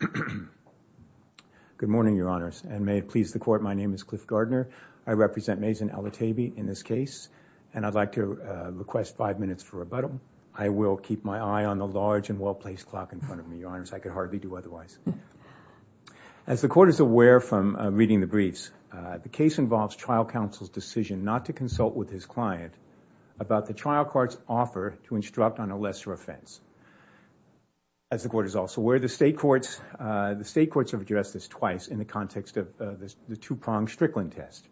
Good morning, Your Honors, and may it please the Court, my name is Cliff Gardner. I represent Mazin Alotaibi in this case, and I'd like to request five minutes for rebuttal. I will keep my eye on the large and well-placed clock in front of me, Your Honors. I could hardly do otherwise. As the Court is aware from reading the briefs, the case involves trial counsel's decision not to consult with his client about the trial court's offer to instruct on a lesser offense. As the Court is also aware, the State Courts have addressed this twice in the context of the two-pronged Strickland test.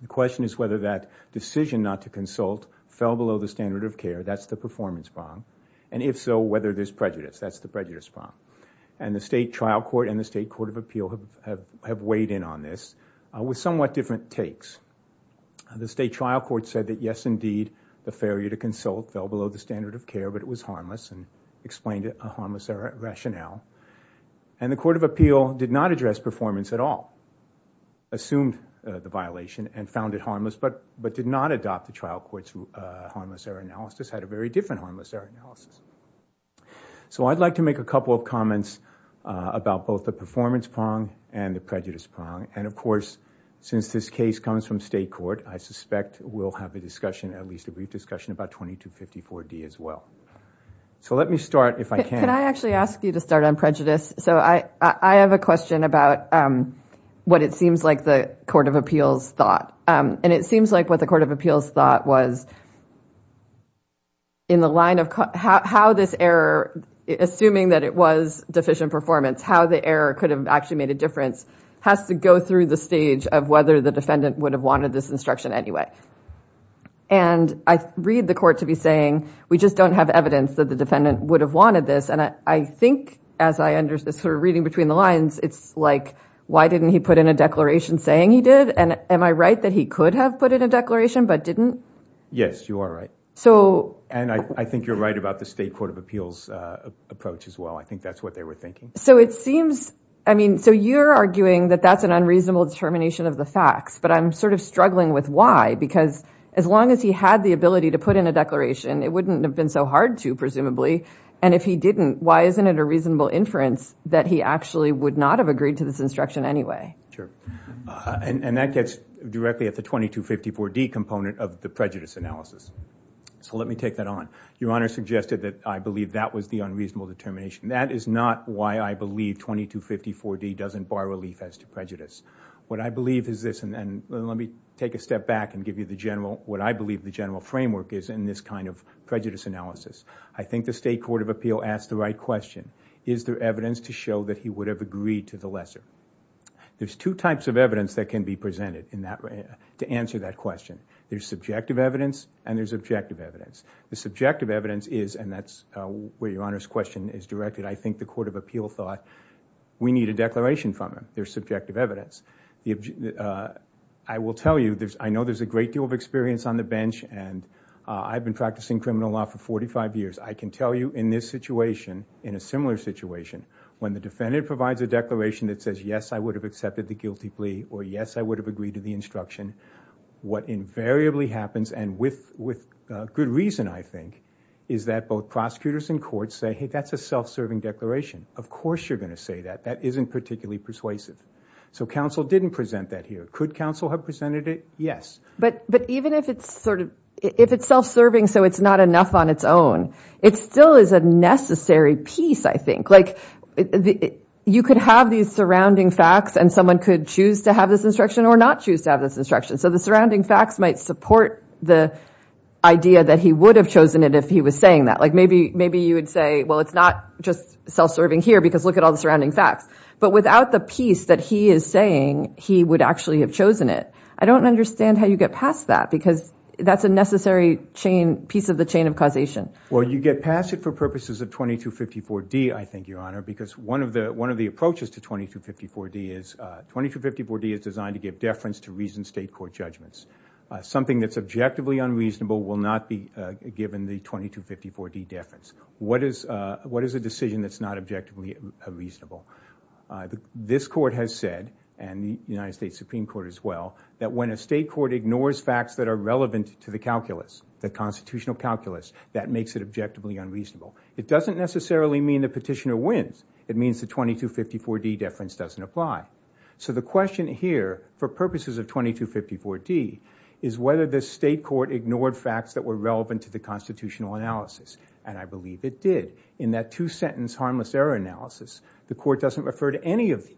The question is whether that decision not to consult fell below the standard of care, that's the performance prong, and if so, whether there's prejudice, that's the prejudice prong. And the State Trial Court and the State Court of Appeal have weighed in on this with somewhat different takes. The State Trial Court said that, yes, indeed, the failure to consult fell below the standard of care, but it was harmless and explained a harmless error rationale. And the Court of Appeal did not address performance at all, assumed the violation and found it harmless, but did not adopt the trial court's harmless error analysis, had a very different harmless error analysis. So I'd like to make a couple of comments about both the performance prong and the prejudice prong. And of course, since this case comes from State Court, I suspect we'll have a discussion, at least a brief discussion, about 2254D as well. So let me start, if I can. Can I actually ask you to start on prejudice? So I have a question about what it seems like the Court of Appeals thought. And it seems like what the Court of Appeals thought was in the line of how this error, assuming that it was deficient performance, how the error could have actually made a difference, has to go through the stage of whether the defendant would have wanted this instruction anyway. And I read the Court to be saying, we just don't have evidence that the defendant would have wanted this. And I think, as I understood, sort of reading between the lines, it's like, why didn't he put in a declaration saying he did? And am I right that he could have put in a declaration but didn't? Yes, you are right. And I think you're right about the State Court of Appeals approach as well. I think that's what they were thinking. So it seems, I mean, so you're arguing that that's an unreasonable determination of the facts. But I'm sort of struggling with why. Because as long as he had the ability to put in a declaration, it wouldn't have been so hard to, presumably. And if he didn't, why isn't it a reasonable inference that he actually would not have agreed to this instruction anyway? Sure. And that gets directly at the 2254D component of the prejudice analysis. So let me take that on. Your Honor suggested that I believe that was the unreasonable determination. That is not why I believe 2254D doesn't bar relief as to prejudice. What I believe is this, and let me take a step back and give you the general, what I believe the general framework is in this kind of prejudice analysis. I think the State Court of Appeals asked the right question. Is there evidence to show that he would have agreed to the lesser? There's two types of evidence that can be presented to answer that question. There's objective evidence. The subjective evidence is, and that's where Your Honor's question is directed, I think the Court of Appeals thought, we need a declaration from him. There's subjective evidence. I will tell you, I know there's a great deal of experience on the bench and I've been practicing criminal law for 45 years. I can tell you in this situation, in a similar situation, when the defendant provides a declaration that says, yes, I would have accepted the guilty plea, or yes, I would have agreed to the instruction, what invariably happens and with good reason, I think, is that both prosecutors and courts say, hey, that's a self-serving declaration. Of course you're going to say that. That isn't particularly persuasive. So counsel didn't present that here. Could counsel have presented it? Yes. But even if it's self-serving so it's not enough on its own, it still is a necessary piece, I think. You could have these surrounding facts and someone could choose to have this instruction or not choose to have this instruction. So the surrounding facts might support the idea that he would have chosen it if he was saying that. Maybe you would say, well, it's not just self-serving here because look at all the surrounding facts. But without the piece that he is saying, he would actually have chosen it. I don't understand how you get past that because that's a necessary piece of the chain of causation. Well, you get past it for purposes of 2254D, I think, Your Honor, because one of the approaches to 2254D is designed to give deference to reasoned state court judgments. Something that's objectively unreasonable will not be given the 2254D deference. What is a decision that's not objectively reasonable? This Court has said, and the United States Supreme Court as well, that when a state court ignores facts that are relevant to the calculus, the constitutional calculus, that makes it objectively unreasonable. It doesn't necessarily mean the petitioner It means the 2254D deference doesn't apply. So the question here, for purposes of 2254D, is whether the state court ignored facts that were relevant to the constitutional analysis. And I believe it did. In that two-sentence harmless error analysis, the Court doesn't refer to any of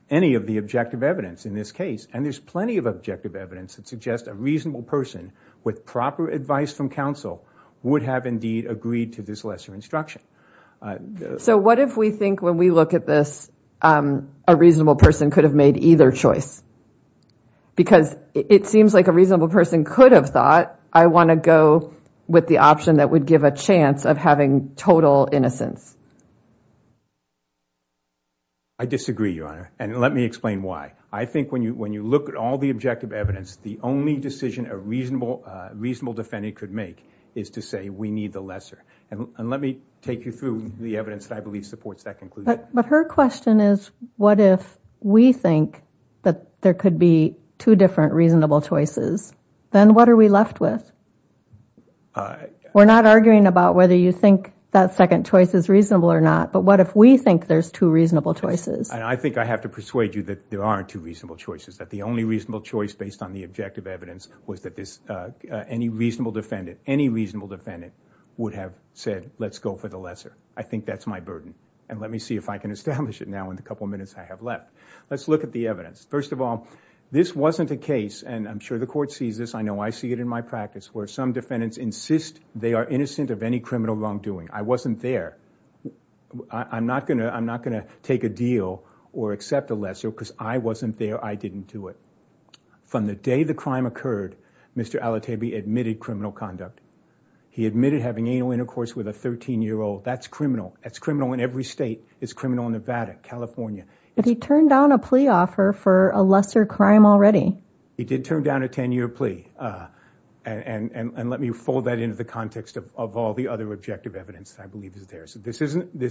the objective evidence in this case. And there's plenty of objective evidence that suggests a reasonable person with proper advice from counsel would have indeed agreed to this lesser instruction. So what if we think when we look at this a reasonable person could have made either choice? Because it seems like a reasonable person could have thought, I want to go with the option that would give a chance of having total innocence. I disagree, Your Honor. And let me explain why. I think when you look at all the objective evidence, the only decision a reasonable defendant could make is to say we need the lesser. And let me take you through the evidence that I believe supports that conclusion. But her question is, what if we think that there could be two different reasonable choices? Then what are we left with? We're not arguing about whether you think that second choice is reasonable or not, but what if we think there's two reasonable choices? I think I have to persuade you that there aren't two reasonable choices. That the only reasonable choice based on the objective evidence was that any reasonable defendant would have said let's go for the lesser. I think that's my burden. And let me see if I can establish it now in the couple minutes I have left. Let's look at the evidence. First of all, this wasn't a case, and I'm sure the Court sees this, I know I see it in my practice, where some defendants insist they are innocent of any criminal wrongdoing. I wasn't there. I'm not going to take a deal or accept a lesser because I wasn't there, I didn't do it. From the day the crime occurred, Mr. Alatebi admitted criminal conduct. He admitted having anal intercourse with a 13-year-old. That's criminal. That's criminal in every state. It's criminal in Nevada, California. But he turned down a plea offer for a lesser crime already. He did turn down a 10-year plea. And let me fold that into the context of all the other objective evidence that I believe is there. This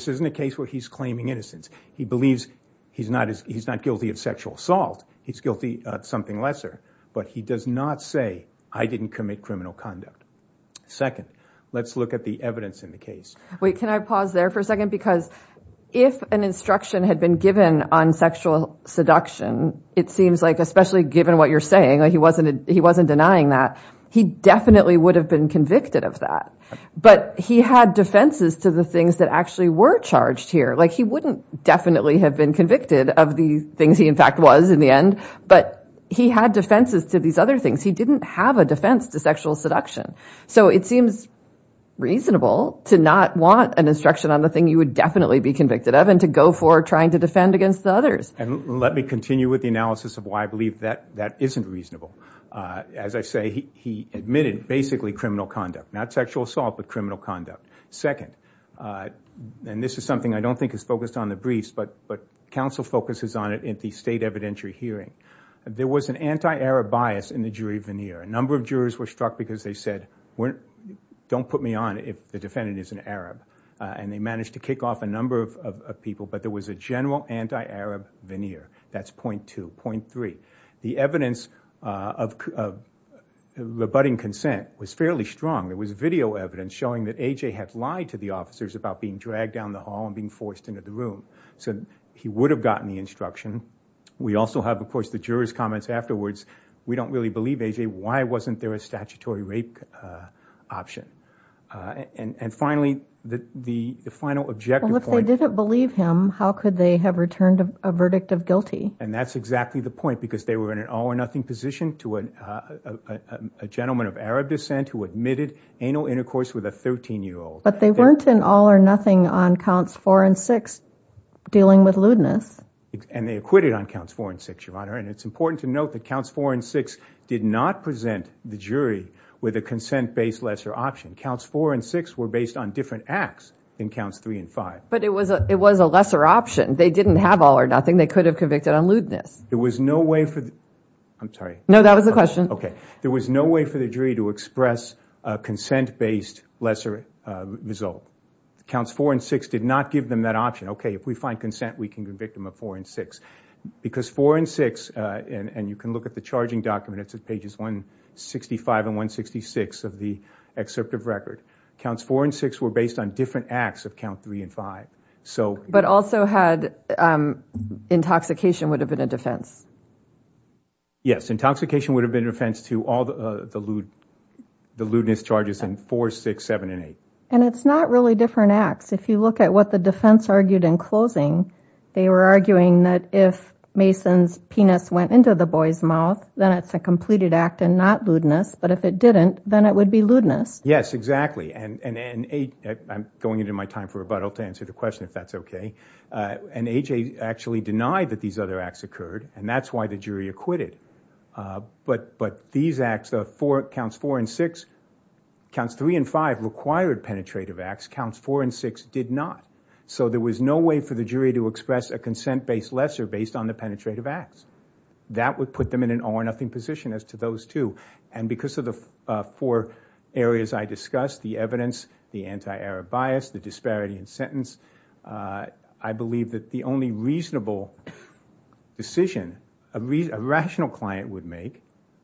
isn't a case where he's claiming innocence. He believes he's not guilty of sexual assault. He's guilty of something lesser. But he does not say, I didn't commit criminal conduct. Second, let's look at the evidence in the case. Wait, can I pause there for a second? Because if an instruction had been given on sexual seduction, it seems like, especially given what you're saying, he wasn't denying that, he definitely would have been convicted of that. But he had defenses to the things that actually were charged here. Like, he wouldn't definitely have been convicted of the things he in fact was in the end. But he had defenses to these other things. He didn't have a defense to sexual seduction. So it seems reasonable to not want an instruction on the thing you would definitely be convicted of and to go for trying to defend against the others. And let me continue with the analysis of why I believe that that isn't reasonable. As I say, he admitted basically criminal conduct. Not sexual assault, but criminal conduct. Second, and this is something I don't think is focused on the briefs, but counsel focuses on it in the state evidentiary hearing. There was an anti-Arab bias in the jury veneer. A number of jurors were struck because they said, don't put me on if the defendant isn't Arab. And they managed to kick off a number of people. But there was a general anti-Arab veneer. That's point two. Point three. The evidence of rebutting consent was fairly strong. There was video evidence showing that he had lied to the officers about being dragged down the hall and being forced into the room. So he would have gotten the instruction. We also have, of course, the jurors' comments afterwards. We don't really believe, A.J., why wasn't there a statutory rape option? And finally, the final objective point. Well, if they didn't believe him, how could they have returned a verdict of guilty? And that's exactly the point. Because they were in an all or nothing position to a gentleman of Arab descent who admitted anal intercourse with a 13-year-old. But they weren't in all or nothing on counts four and six dealing with lewdness. And they acquitted on counts four and six, Your Honor. And it's important to note that counts four and six did not present the jury with a consent-based lesser option. Counts four and six were based on different acts than counts three and five. But it was a lesser option. They didn't have all or nothing. They could have convicted on lewdness. There was no way for the... I'm sorry. No, that was the question. There was no way for the jury to express a consent-based lesser result. Counts four and six did not give them that option. Okay, if we find consent, we can convict them of four and six. Because four and six, and you can look at the charging document. It's at pages 165 and 166 of the excerpt of record. Counts four and six were based on different acts of count three and five. But also had intoxication would have been a defense. Yes, intoxication would have been a defense to all the lewdness charges in four, six, seven, and eight. And it's not really different acts. If you look at what the defense argued in closing, they were arguing that if Mason's penis went into the boy's mouth, then it's a completed act and not lewdness. But if it didn't, then it would be lewdness. Yes, exactly. And I'm going into my time for rebuttal to answer the question if that's okay. And AJ actually denied that these other acts occurred, and that's why the jury acquitted. But these acts, counts four and six, counts three and five required penetrative acts. Counts four and six did not. So there was no way for the jury to express a consent-based lesser based on the penetrative acts. That would put them in an all or nothing position as to those two. And because of the four areas I discussed, the evidence, the anti-arab bias, the disparity in sentence, I believe that the only reasonable decision a rational client would make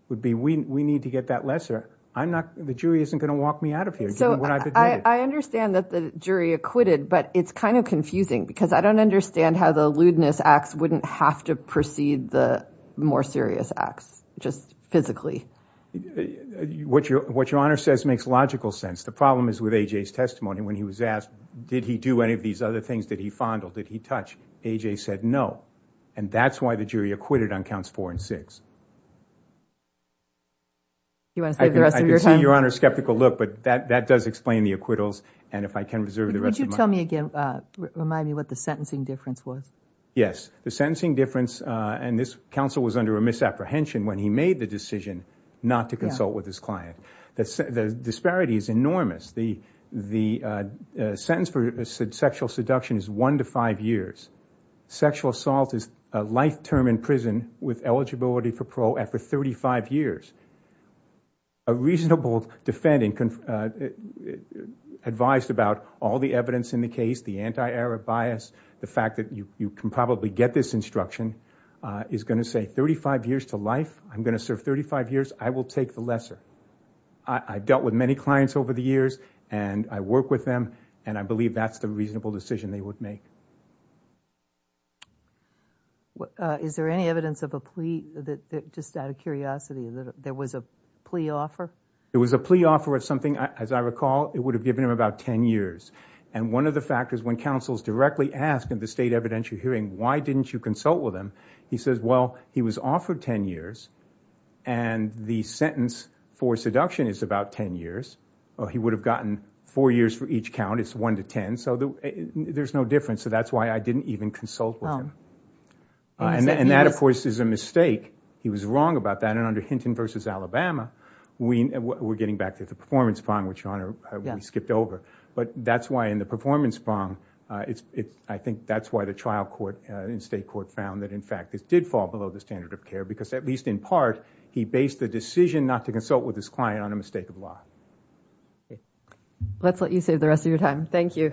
would be we need to get that lesser. I'm not, the jury isn't going to walk me out of here. So I understand that the jury acquitted, but it's kind of confusing because I don't understand how the lewdness acts wouldn't have to precede the more serious acts, just physically. What your Honor says makes logical sense. The problem is with AJ's testimony when he was asked did he do any of these other things, did he fondle, did he touch, AJ said no. And that's why the jury acquitted on counts four and six. I can see your Honor's skeptical look, but that does explain the acquittals, and if I can reserve the rest of my time. Would you tell me again, remind me what the sentencing difference was? Yes. The sentencing difference, and this counsel was under a misapprehension when he made the decision not to consult with his client. The disparity is enormous. The sentence for sexual seduction is one to five years. Sexual assault is a life term in prison with eligibility for parole after 35 years. A reasonable defendant advised about all the evidence in the case, the anti-error bias, the fact that you can probably get this instruction, is going to say 35 years to life, I'm going to serve 35 years, I will take the lesser. I've dealt with many clients over the years, and I work with them, and I believe that's the reasonable decision they would make. Is there any evidence of a plea, just out of curiosity, that there was a plea offer? There was a plea offer of something, as I recall, it would have given him about 10 years. One of the factors when counsel is directly asked in the state evidentiary hearing why didn't you consult with him, he says, well, he was offered 10 years, and the sentence for seduction is about 10 years. He would have gotten four years for each count, it's one to 10, so there's no difference, so that's why I didn't even consult with him. That, of course, is a mistake. He was wrong about that, and under Hinton v. Alabama, we're getting back to the performance bond, which we skipped over, but that's why in the performance bond, I think that's why the trial court in state court found that, in fact, it did fall below the standard of care because, at least in part, he based the decision not to consult with his client on a mistake of law. Let's let you save the rest of your time. Thank you.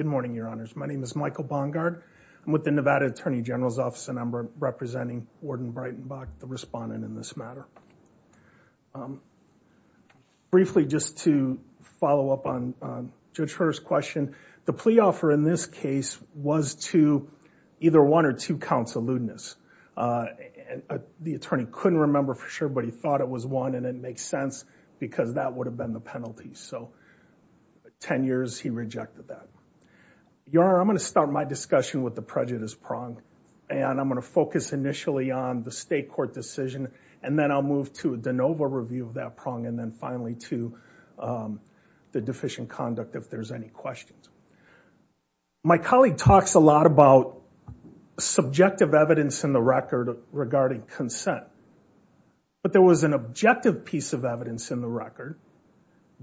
Good morning, Your Honors. My name is Michael Bongard. I'm with the Nevada Attorney General's Office, and I'm representing Warden Brightenbach, the respondent in this matter. Briefly, just to follow up on Judge Herr's question, the plea offer in this case was to either one or two counts of lewdness. The attorney couldn't remember for sure, but he thought it was one, and it makes sense because that would have been the penalty, so 10 years, he rejected that. Your Honor, I'm going to start my discussion with the prejudice prong, and I'm going to focus initially on the state court decision, and then I'll move to a de novo review of that prong, and then finally to the deficient conduct if there's any questions. My colleague talks a lot about subjective evidence in the record regarding consent, but there was an objective piece of evidence in the record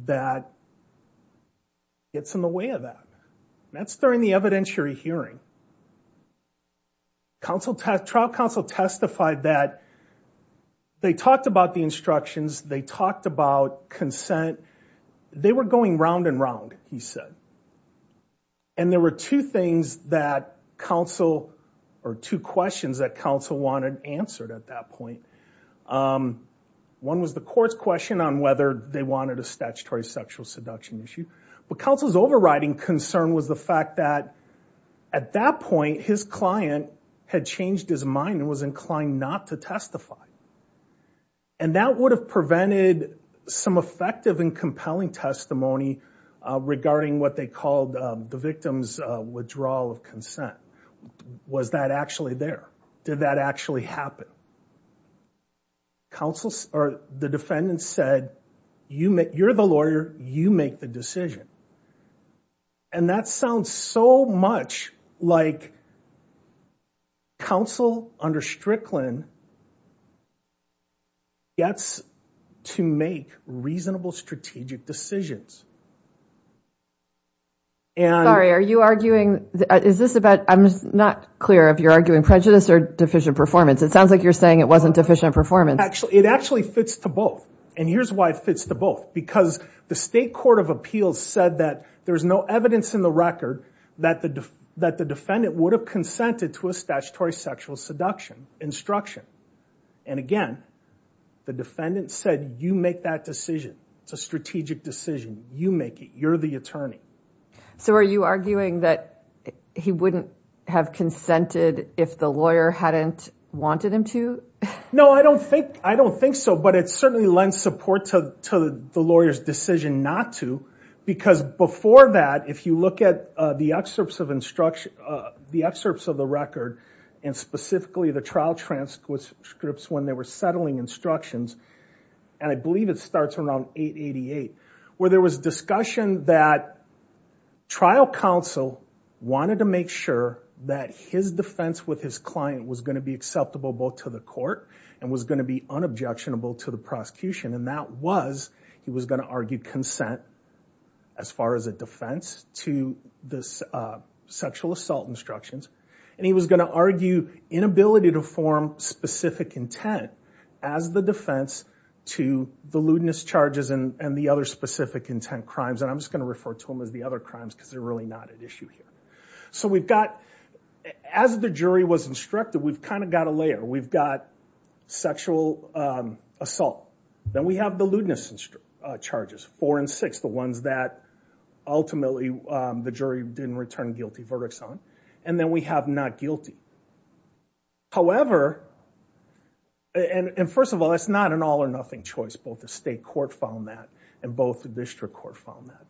that gets in the way of that. That's during the evidentiary hearing. Trial counsel testified that they talked about the instructions, they talked about consent. They were going round and round, he said, and there were two things that counsel, or two questions that counsel wanted answered at that point. One was the court's question on whether they wanted a statutory sexual seduction issue, but counsel's overriding concern was the fact that at that point, his client had changed his mind and was inclined not to testify, and that would have prevented some effective and compelling testimony regarding what they called the victim's withdrawal of consent. Was that actually there? Did that actually happen? The defendant said, you're the lawyer, you make the decision, and that sounds so much like counsel under Strickland gets to make reasonable strategic decisions. Sorry, are you arguing, is this about, I'm not clear if you're arguing prejudice or deficient performance. It sounds like you're saying it wasn't deficient performance. It actually fits to both, and here's why it fits to both. Because the state court of appeals said that there's no evidence in the record that the defendant would have consented to a statutory sexual seduction instruction. And again, the defendant said, you make that decision, it's a strategic decision, you make it, you're the attorney. So are you arguing that he wouldn't have consented if the lawyer hadn't wanted him to? No, I don't think so, but it certainly lends support to the lawyer's decision not to, because before that, if you look at the excerpts of instruction, the excerpts of the record, and specifically the trial transcripts when they were settling instructions, and I believe it starts around 888, where there was discussion that trial counsel wanted to make sure that his defense with his client was going to be acceptable both to the court and was going to be unobjectionable to the prosecution. And that was, he was going to argue consent, as far as a defense, to the sexual assault instructions. And he was going to argue inability to form specific intent as the defense to the lewdness charges and the other specific intent crimes. And I'm just going to refer to them as the other crimes because they're really not at issue here. So we've got, as the jury was instructed, we've kind of got a layer. We've got sexual assault. Then we have the lewdness charges, four and six, the ones that ultimately the jury didn't return guilty verdicts on. And then we have not guilty. However, and first of all, that's not an all or nothing choice. Both the state court found that, and both the district court found that.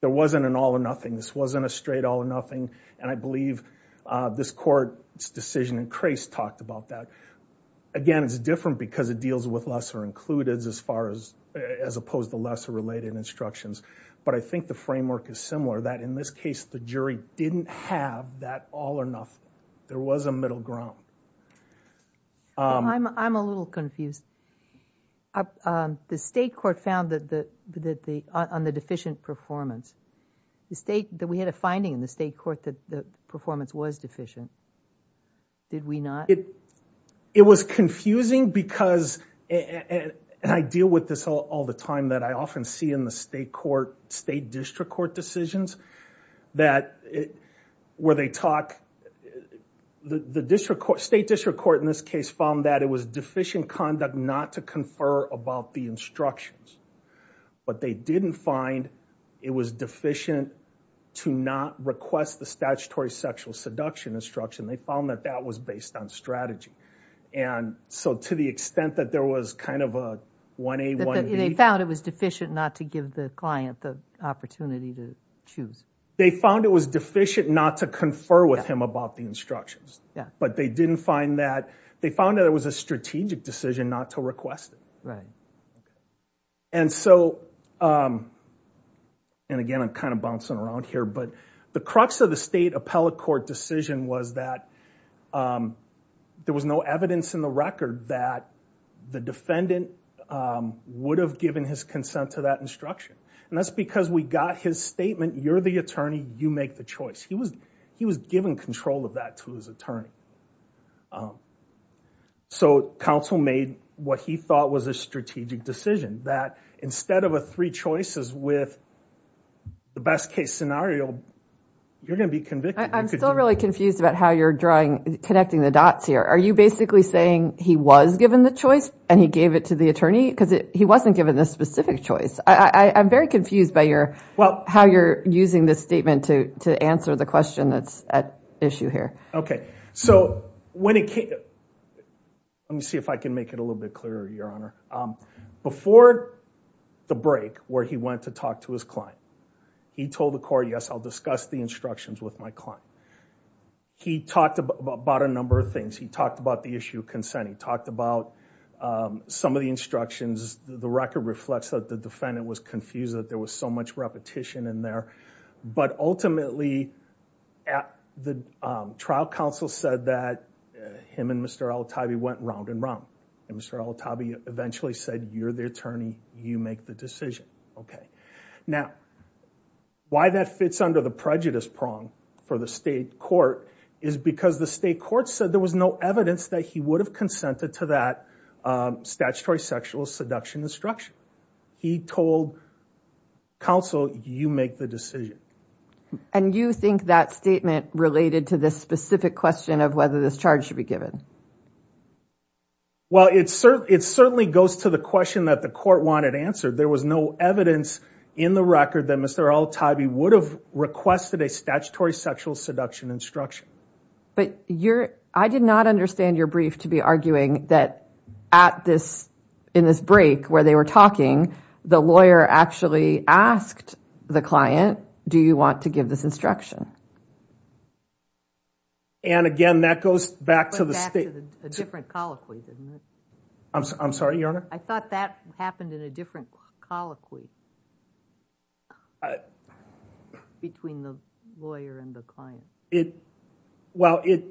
There wasn't an all or nothing. This wasn't a straight all or nothing. And I believe this court's decision in Crase talked about that. Again, it's different because it deals with lesser included as far as opposed to lesser related instructions. But I think the framework is similar that in this case, the jury didn't have that all or nothing. There was a middle ground. I'm a little confused. The state court found that on the deficient performance, that we had a finding in the state court that the performance was deficient. Did we not? It was confusing because, and I deal with this all the time, that I often see in the state court, state district court decisions that where they talk, the state district court in this case found that it was deficient conduct not to confer about the instructions. But they didn't find it was deficient to not request the statutory sexual seduction instruction. They found that that was based on strategy. And so to the extent that there was kind of a 1A, 1B. They found it was deficient not to give the client the opportunity to choose. They found it was deficient not to confer with him about the instructions. Yeah. But they didn't find that. They found that it was a strategic decision not to request it. Right. And so, and again, I'm kind of bouncing around here, but the crux of the state appellate court decision was that there was no evidence in the record that the defendant would have given his consent to that instruction. And that's because we got his statement, you're the attorney, you make the choice. He was given control of that to his attorney. So counsel made what he thought was a strategic decision. That instead of a three choices with the best case scenario, you're going to be convicted. I'm still really confused about how you're drawing, connecting the dots here. Are you basically saying he was given the choice and he gave it to the attorney? Because he wasn't given this specific choice. I'm very confused by how you're using this statement to answer the question that's at issue here. Okay. So when it came, let me see if I can make it a little bit clearer, Your Honor. Before the break where he went to talk to his client, he told the court, yes, I'll discuss the instructions with my client. He talked about a number of things. He talked about the issue of consent. He talked about some of the instructions. The record reflects that the defendant was confused that there was much repetition in there. But ultimately, the trial counsel said that him and Mr. Al-Atabi went round and round. And Mr. Al-Atabi eventually said, you're the attorney, you make the decision. Okay. Now, why that fits under the prejudice prong for the state court is because the state court said there was no evidence that he would have consented to that statutory sexual seduction instruction. He told counsel, you make the decision. And you think that statement related to this specific question of whether this charge should be given? Well, it certainly goes to the question that the court wanted answered. There was no evidence in the record that Mr. Al-Atabi would have requested a statutory sexual seduction instruction. But I did not understand your brief to be arguing that at this, in this break where they were talking, the lawyer actually asked the client, do you want to give this instruction? And again, that goes back to the state. A different colloquy. I'm sorry, Your Honor. I thought that happened in a different colloquy between the lawyer and the client. It, well, it,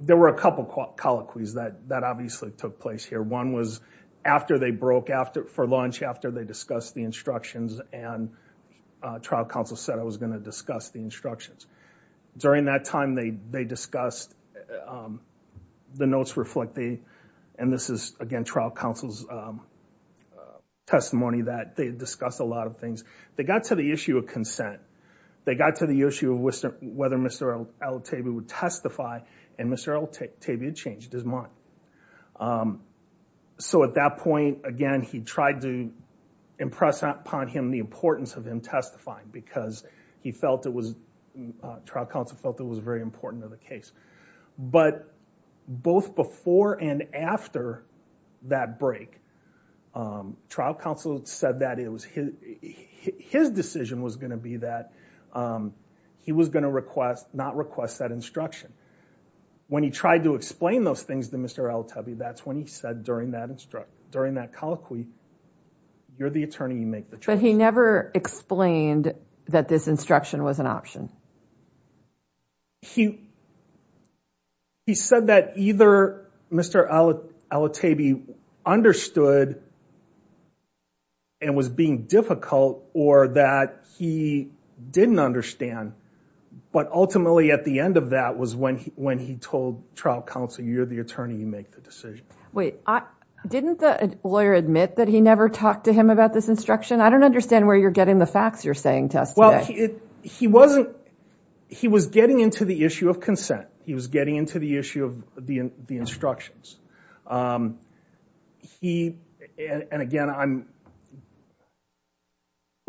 there were a couple of colloquies that, that obviously took place here. One was after they broke after, for lunch, after they discussed the instructions and trial counsel said I was going to discuss the instructions. During that time they, they discussed, the notes reflect the, and this is again trial counsel's testimony that they discussed a lot of things. They got to the issue of consent. They got to the issue of whether Mr. Al-Atabi would testify and Mr. Al-Atabi had changed his mind. So at that point, again, he tried to impress upon him the importance of him testifying because he felt it was, trial counsel felt it was his decision was going to be that he was going to request, not request that instruction. When he tried to explain those things to Mr. Al-Atabi, that's when he said during that instruct, during that colloquy, you're the attorney, you make the choice. But he never explained that this instruction was an option. He, he said that either Mr. Al-Atabi understood and was being difficult or that he didn't understand but ultimately at the end of that was when he, when he told trial counsel you're the attorney, you make the decision. Wait, I, didn't the lawyer admit that he never talked to him about this instruction? I don't understand where you're getting the facts you're saying to us today. He wasn't, he was getting into the issue of consent. He was getting into the issue of the, the instructions. He, and again, I'm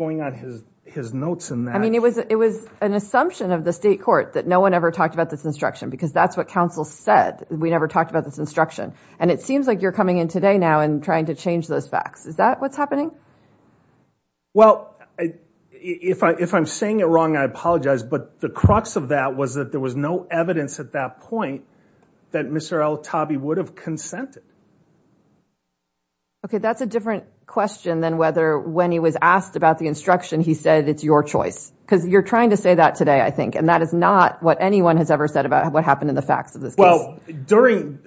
going on his, his notes in that. I mean, it was, it was an assumption of the state court that no one ever talked about this instruction because that's what counsel said. We never talked about this instruction and it seems like you're coming in today now and trying to change those facts. Is that what's happening? Well, I, if I, if I'm saying it wrong, I apologize. But the crux of that was that there was no evidence at that point that Mr. Al-Atabi would have consented. Okay. That's a different question than whether when he was asked about the instruction, he said, it's your choice because you're trying to say that today, I think, and that is not what anyone has ever said about what happened in the facts of this case. During,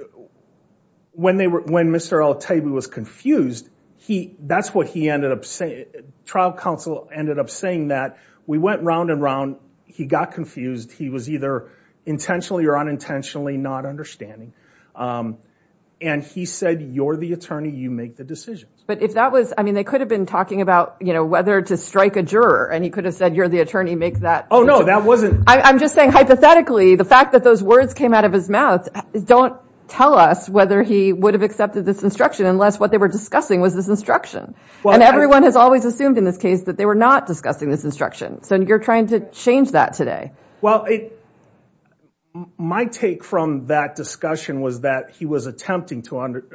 when they were, when Mr. Al-Atabi was confused, he, that's what he ended up saying. Trial counsel ended up saying that. We went round and round. He got confused. He was either intentionally or unintentionally not understanding. And he said, you're the attorney, you make the decisions. But if that was, I mean, they could have been talking about, you know, whether to strike a juror and he could have said, you're the attorney, make that. Oh no, that wasn't. I'm just saying, hypothetically, the fact that those words came out of his mouth, don't tell us whether he would have accepted this instruction unless what they were discussing was this instruction. And everyone has always assumed in this case that they were not discussing this instruction. So you're trying to change that today. Well, my take from that discussion was that he was attempting to under,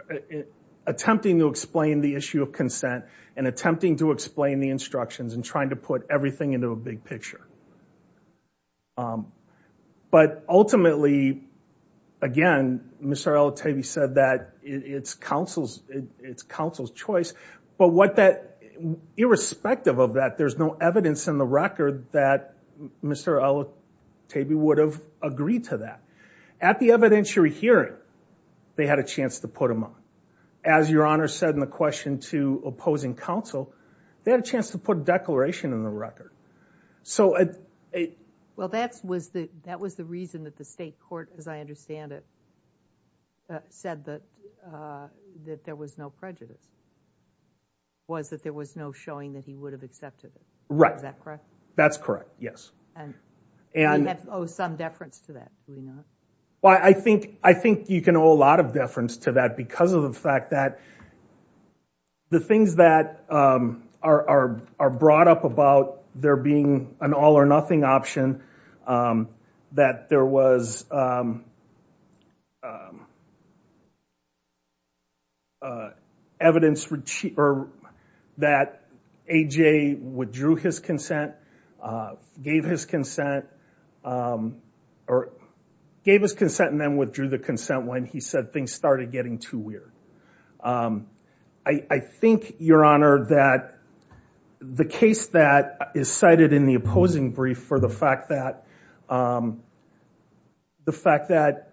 attempting to explain the issue of consent and attempting to explain the instructions and trying to put everything into a big picture. But ultimately, again, Mr. Al-Atabi said that it's counsel's, it's counsel's choice. But what that, irrespective of that, there's no evidence in the record that Mr. Al-Atabi would have agreed to that. At the evidentiary hearing, they had a chance to put him on. As Your Honor said in the question to opposing counsel, they had a chance to put counsel's declaration in the record. Well, that was the reason that the state court, as I understand it, said that there was no prejudice, was that there was no showing that he would have accepted it. Right. Is that correct? That's correct, yes. And we owe some deference to that, do we not? Well, I think you can owe a lot of deference to that because of the fact that the things that are brought up about there being an all or nothing option, that there was evidence that A.J. withdrew his consent, gave his consent, or gave his consent and then withdrew the consent when he said things started getting too weird. I think, Your Honor, that the case that is cited in the opposing brief for the fact that, the fact that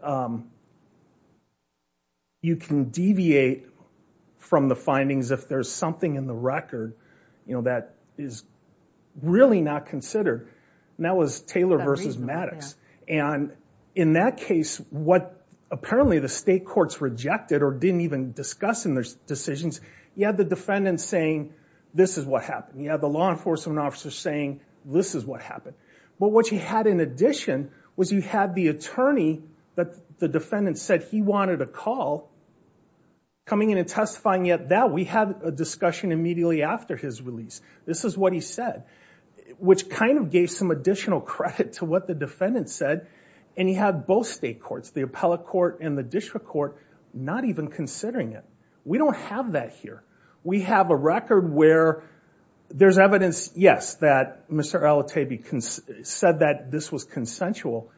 you can deviate from the findings if there's something in the record, you know, that is really not considered. And that was Taylor versus Maddox. And in that case, what apparently the state courts rejected or didn't even discuss in their decisions, you had the defendant saying, this is what happened. You had the law enforcement officer saying, this is what happened. But what you had in addition was you had the attorney that the defendant said he wanted a call coming in and testifying, yet that we had a discussion immediately after his release. This is what he said, which kind of gave some additional credit to what the defendant said. And he had both state courts, the appellate court and the district court, not even considering it. We don't have that here. We have a record where there's evidence, yes, that Mr. Alatebi said that this was consensual.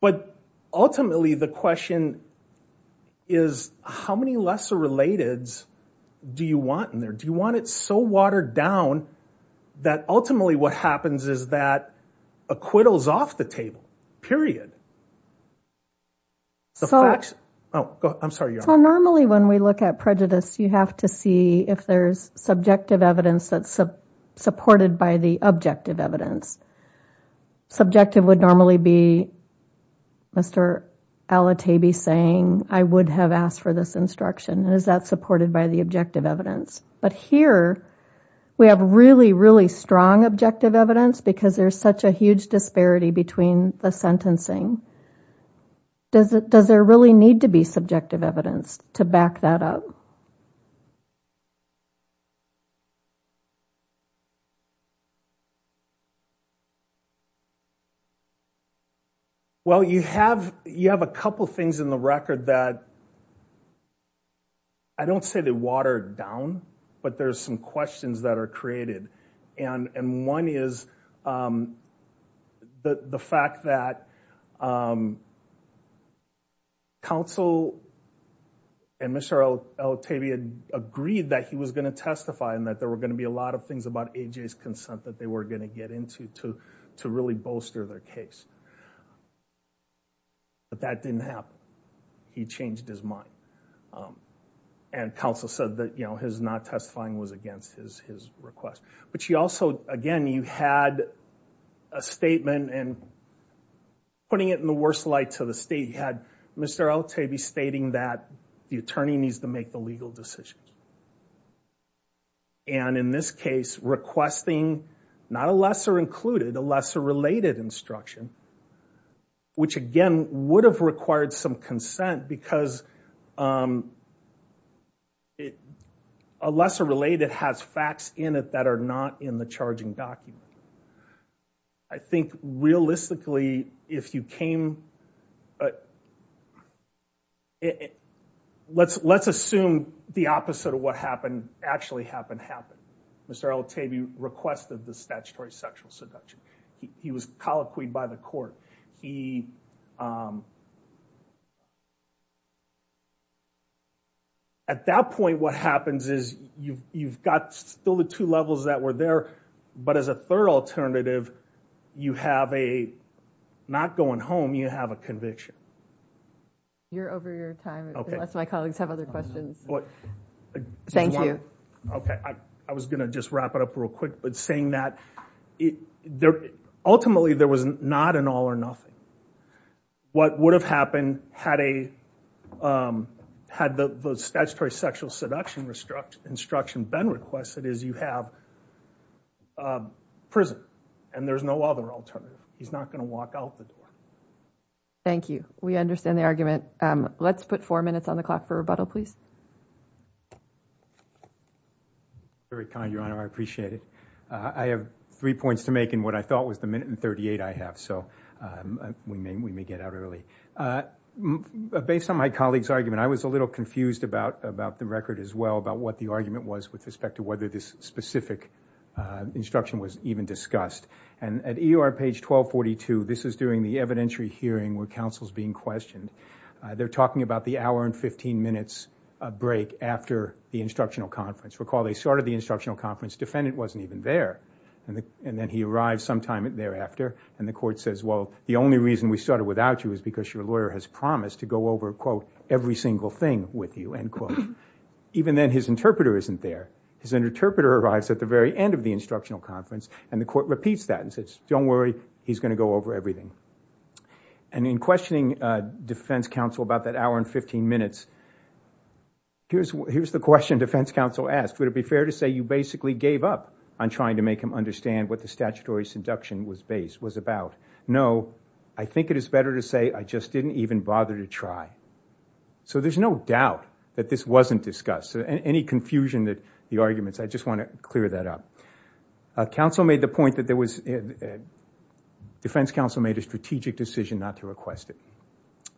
But ultimately, the question is, how many lesser relateds do you want in there? Do you want it so watered down that ultimately what happens is that acquittals off the table, period? I'm sorry. Normally, when we look at prejudice, you have to see if there's subjective evidence that's supported by the objective evidence. Subjective would normally be Mr. Alatebi saying, I would have asked for this instruction. Is that by the objective evidence? But here, we have really, really strong objective evidence because there's such a huge disparity between the sentencing. Does there really need to be subjective evidence to back that up? Well, you have a couple of things in the record that I don't say they watered down, but there's some questions that are created. And one is the fact that counsel and Mr. Alatebi had agreed that he was going to testify and that there were going to be a lot of things about AJ's consent that they were going to get into to really bolster their case. But that didn't happen. He changed his mind. And counsel said that his not testifying was against his request. But you also, again, you had a statement and putting it in the worst light to the state, you had Mr. Alatebi stating that the attorney needs to make the legal decision. And in this case, requesting not a lesser-included, a lesser-related instruction, which again, would have required some consent because a lesser-related has facts in it that are not in the charging document. I think realistically, if you came, let's assume the opposite of what happened actually happened, happened. Mr. Alatebi requested the statutory sexual seduction. He was colloquied by the court. He, at that point, what happens is you've got still the two levels that were there, but as a third alternative, you have a, not going home, you have a conviction. You're over your time, unless my colleagues have other questions. Thank you. Okay, I was going to just wrap it up real quick. But saying that, ultimately, there was not an all or nothing. What would have happened had the statutory sexual seduction instruction been requested is you have prison and there's no other alternative. He's not going to walk out the door. Thank you. We understand the argument. Let's put four minutes on the clock for rebuttal, please. Thank you. Very kind, Your Honor. I appreciate it. I have three points to make in what I thought was the minute and 38 I have, so we may get out early. Based on my colleague's argument, I was a little confused about the record as well, about what the argument was with respect to whether this specific instruction was even discussed. At EOR page 1242, this is during the evidentiary hearing where counsel's being questioned. They're talking about the hour and 15 minutes break after the instructional conference. Recall they started the instructional conference, defendant wasn't even there. Then he arrives sometime thereafter, and the court says, well, the only reason we started without you is because your lawyer has promised to go over, quote, every single thing with you, end quote. Even then, his interpreter isn't there. His interpreter arrives at the very end of the instructional conference, and the court repeats that and says, don't worry, he's going to go over everything. In questioning defense counsel about that hour and 15 minutes, here's the question defense counsel asked. Would it be fair to say you basically gave up on trying to make him understand what the statutory seduction was about? No, I think it is better to say I just didn't even bother to try. There's no doubt that this wasn't discussed. Any confusion, the arguments, I just want to clear that up. Counsel made the point that defense counsel made a strategic decision not to request it.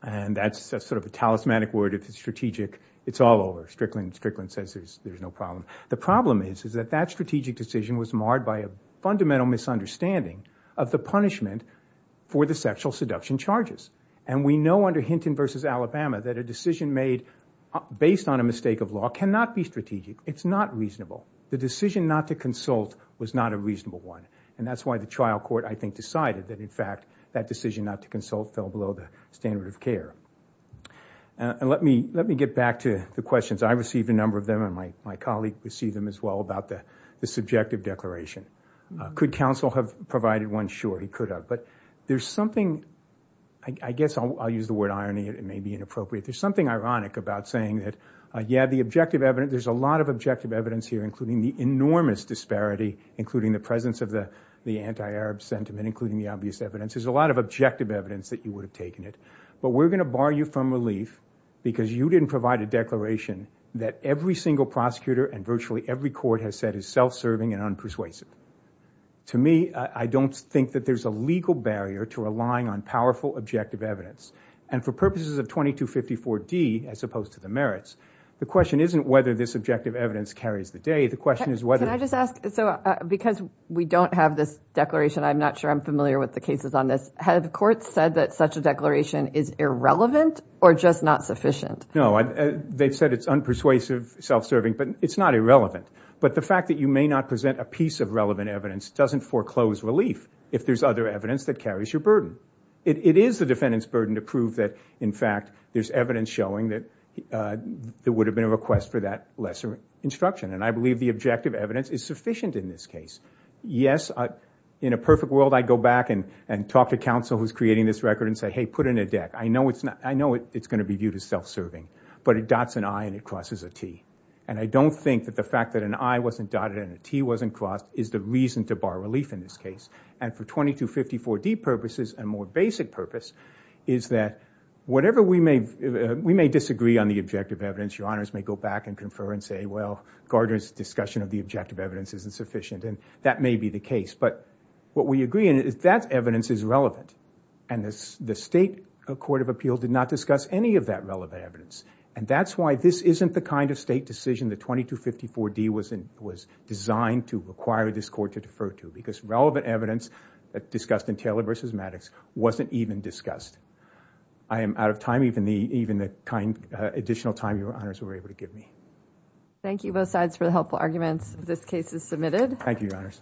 That's sort of a talismanic word. If it's strategic, it's all over. Strickland says there's no problem. The problem is that strategic decision was marred by a fundamental misunderstanding of the punishment for the sexual seduction charges. We know under Hinton v. Alabama that a decision made based on a mistake of law cannot be strategic. It's not reasonable. The decision not to consult was not a reasonable one. That's why the trial court, I think, standard of care. Let me get back to the questions. I received a number of them and my colleague received them as well about the subjective declaration. Could counsel have provided one? Sure, he could have. I guess I'll use the word irony. It may be inappropriate. There's something ironic about saying that, yeah, there's a lot of objective evidence here, including the enormous disparity, including the presence of the anti-Arab sentiment, including the obvious evidence. There's a lot of objective evidence that you would have taken it, but we're going to bar you from relief because you didn't provide a declaration that every single prosecutor and virtually every court has said is self-serving and unpersuasive. To me, I don't think that there's a legal barrier to relying on powerful objective evidence. For purposes of 2254D, as opposed to the merits, the question isn't whether this objective evidence carries the day. Can I just ask, because we don't have this declaration, I'm not sure I'm familiar with the cases on this. Have the courts said that such a declaration is irrelevant or just not sufficient? No, they've said it's unpersuasive, self-serving, but it's not irrelevant. The fact that you may not present a piece of relevant evidence doesn't foreclose relief if there's other evidence that carries your burden. It is the defendant's burden to prove that, in fact, there's evidence showing that there would have been a request for that lesser instruction. I believe the objective evidence is sufficient in this case. Yes, in a perfect world, I'd go back and talk to counsel who's creating this record and say, hey, put in a deck. I know it's going to be viewed as self-serving, but it dots an I and it crosses a T. I don't think that the fact that an I wasn't dotted and a T wasn't crossed is the reason to bar relief in this case. For 2254D purposes, a more basic purpose, is that whatever we may disagree on the objective evidence, your honors may go back and confer and say, well, Gardner's discussion of the objective evidence isn't sufficient, and that may be the case, but what we agree on is that evidence is relevant, and the state court of appeal did not discuss any of that relevant evidence, and that's why this isn't the kind of state decision that 2254D was designed to require this court to defer to, because relevant evidence that discussed in Taylor v. Maddox wasn't even discussed. I am out of time, even the additional time your honors were able to give me. Thank you both sides for the helpful arguments. This case is submitted. Thank you, your honors.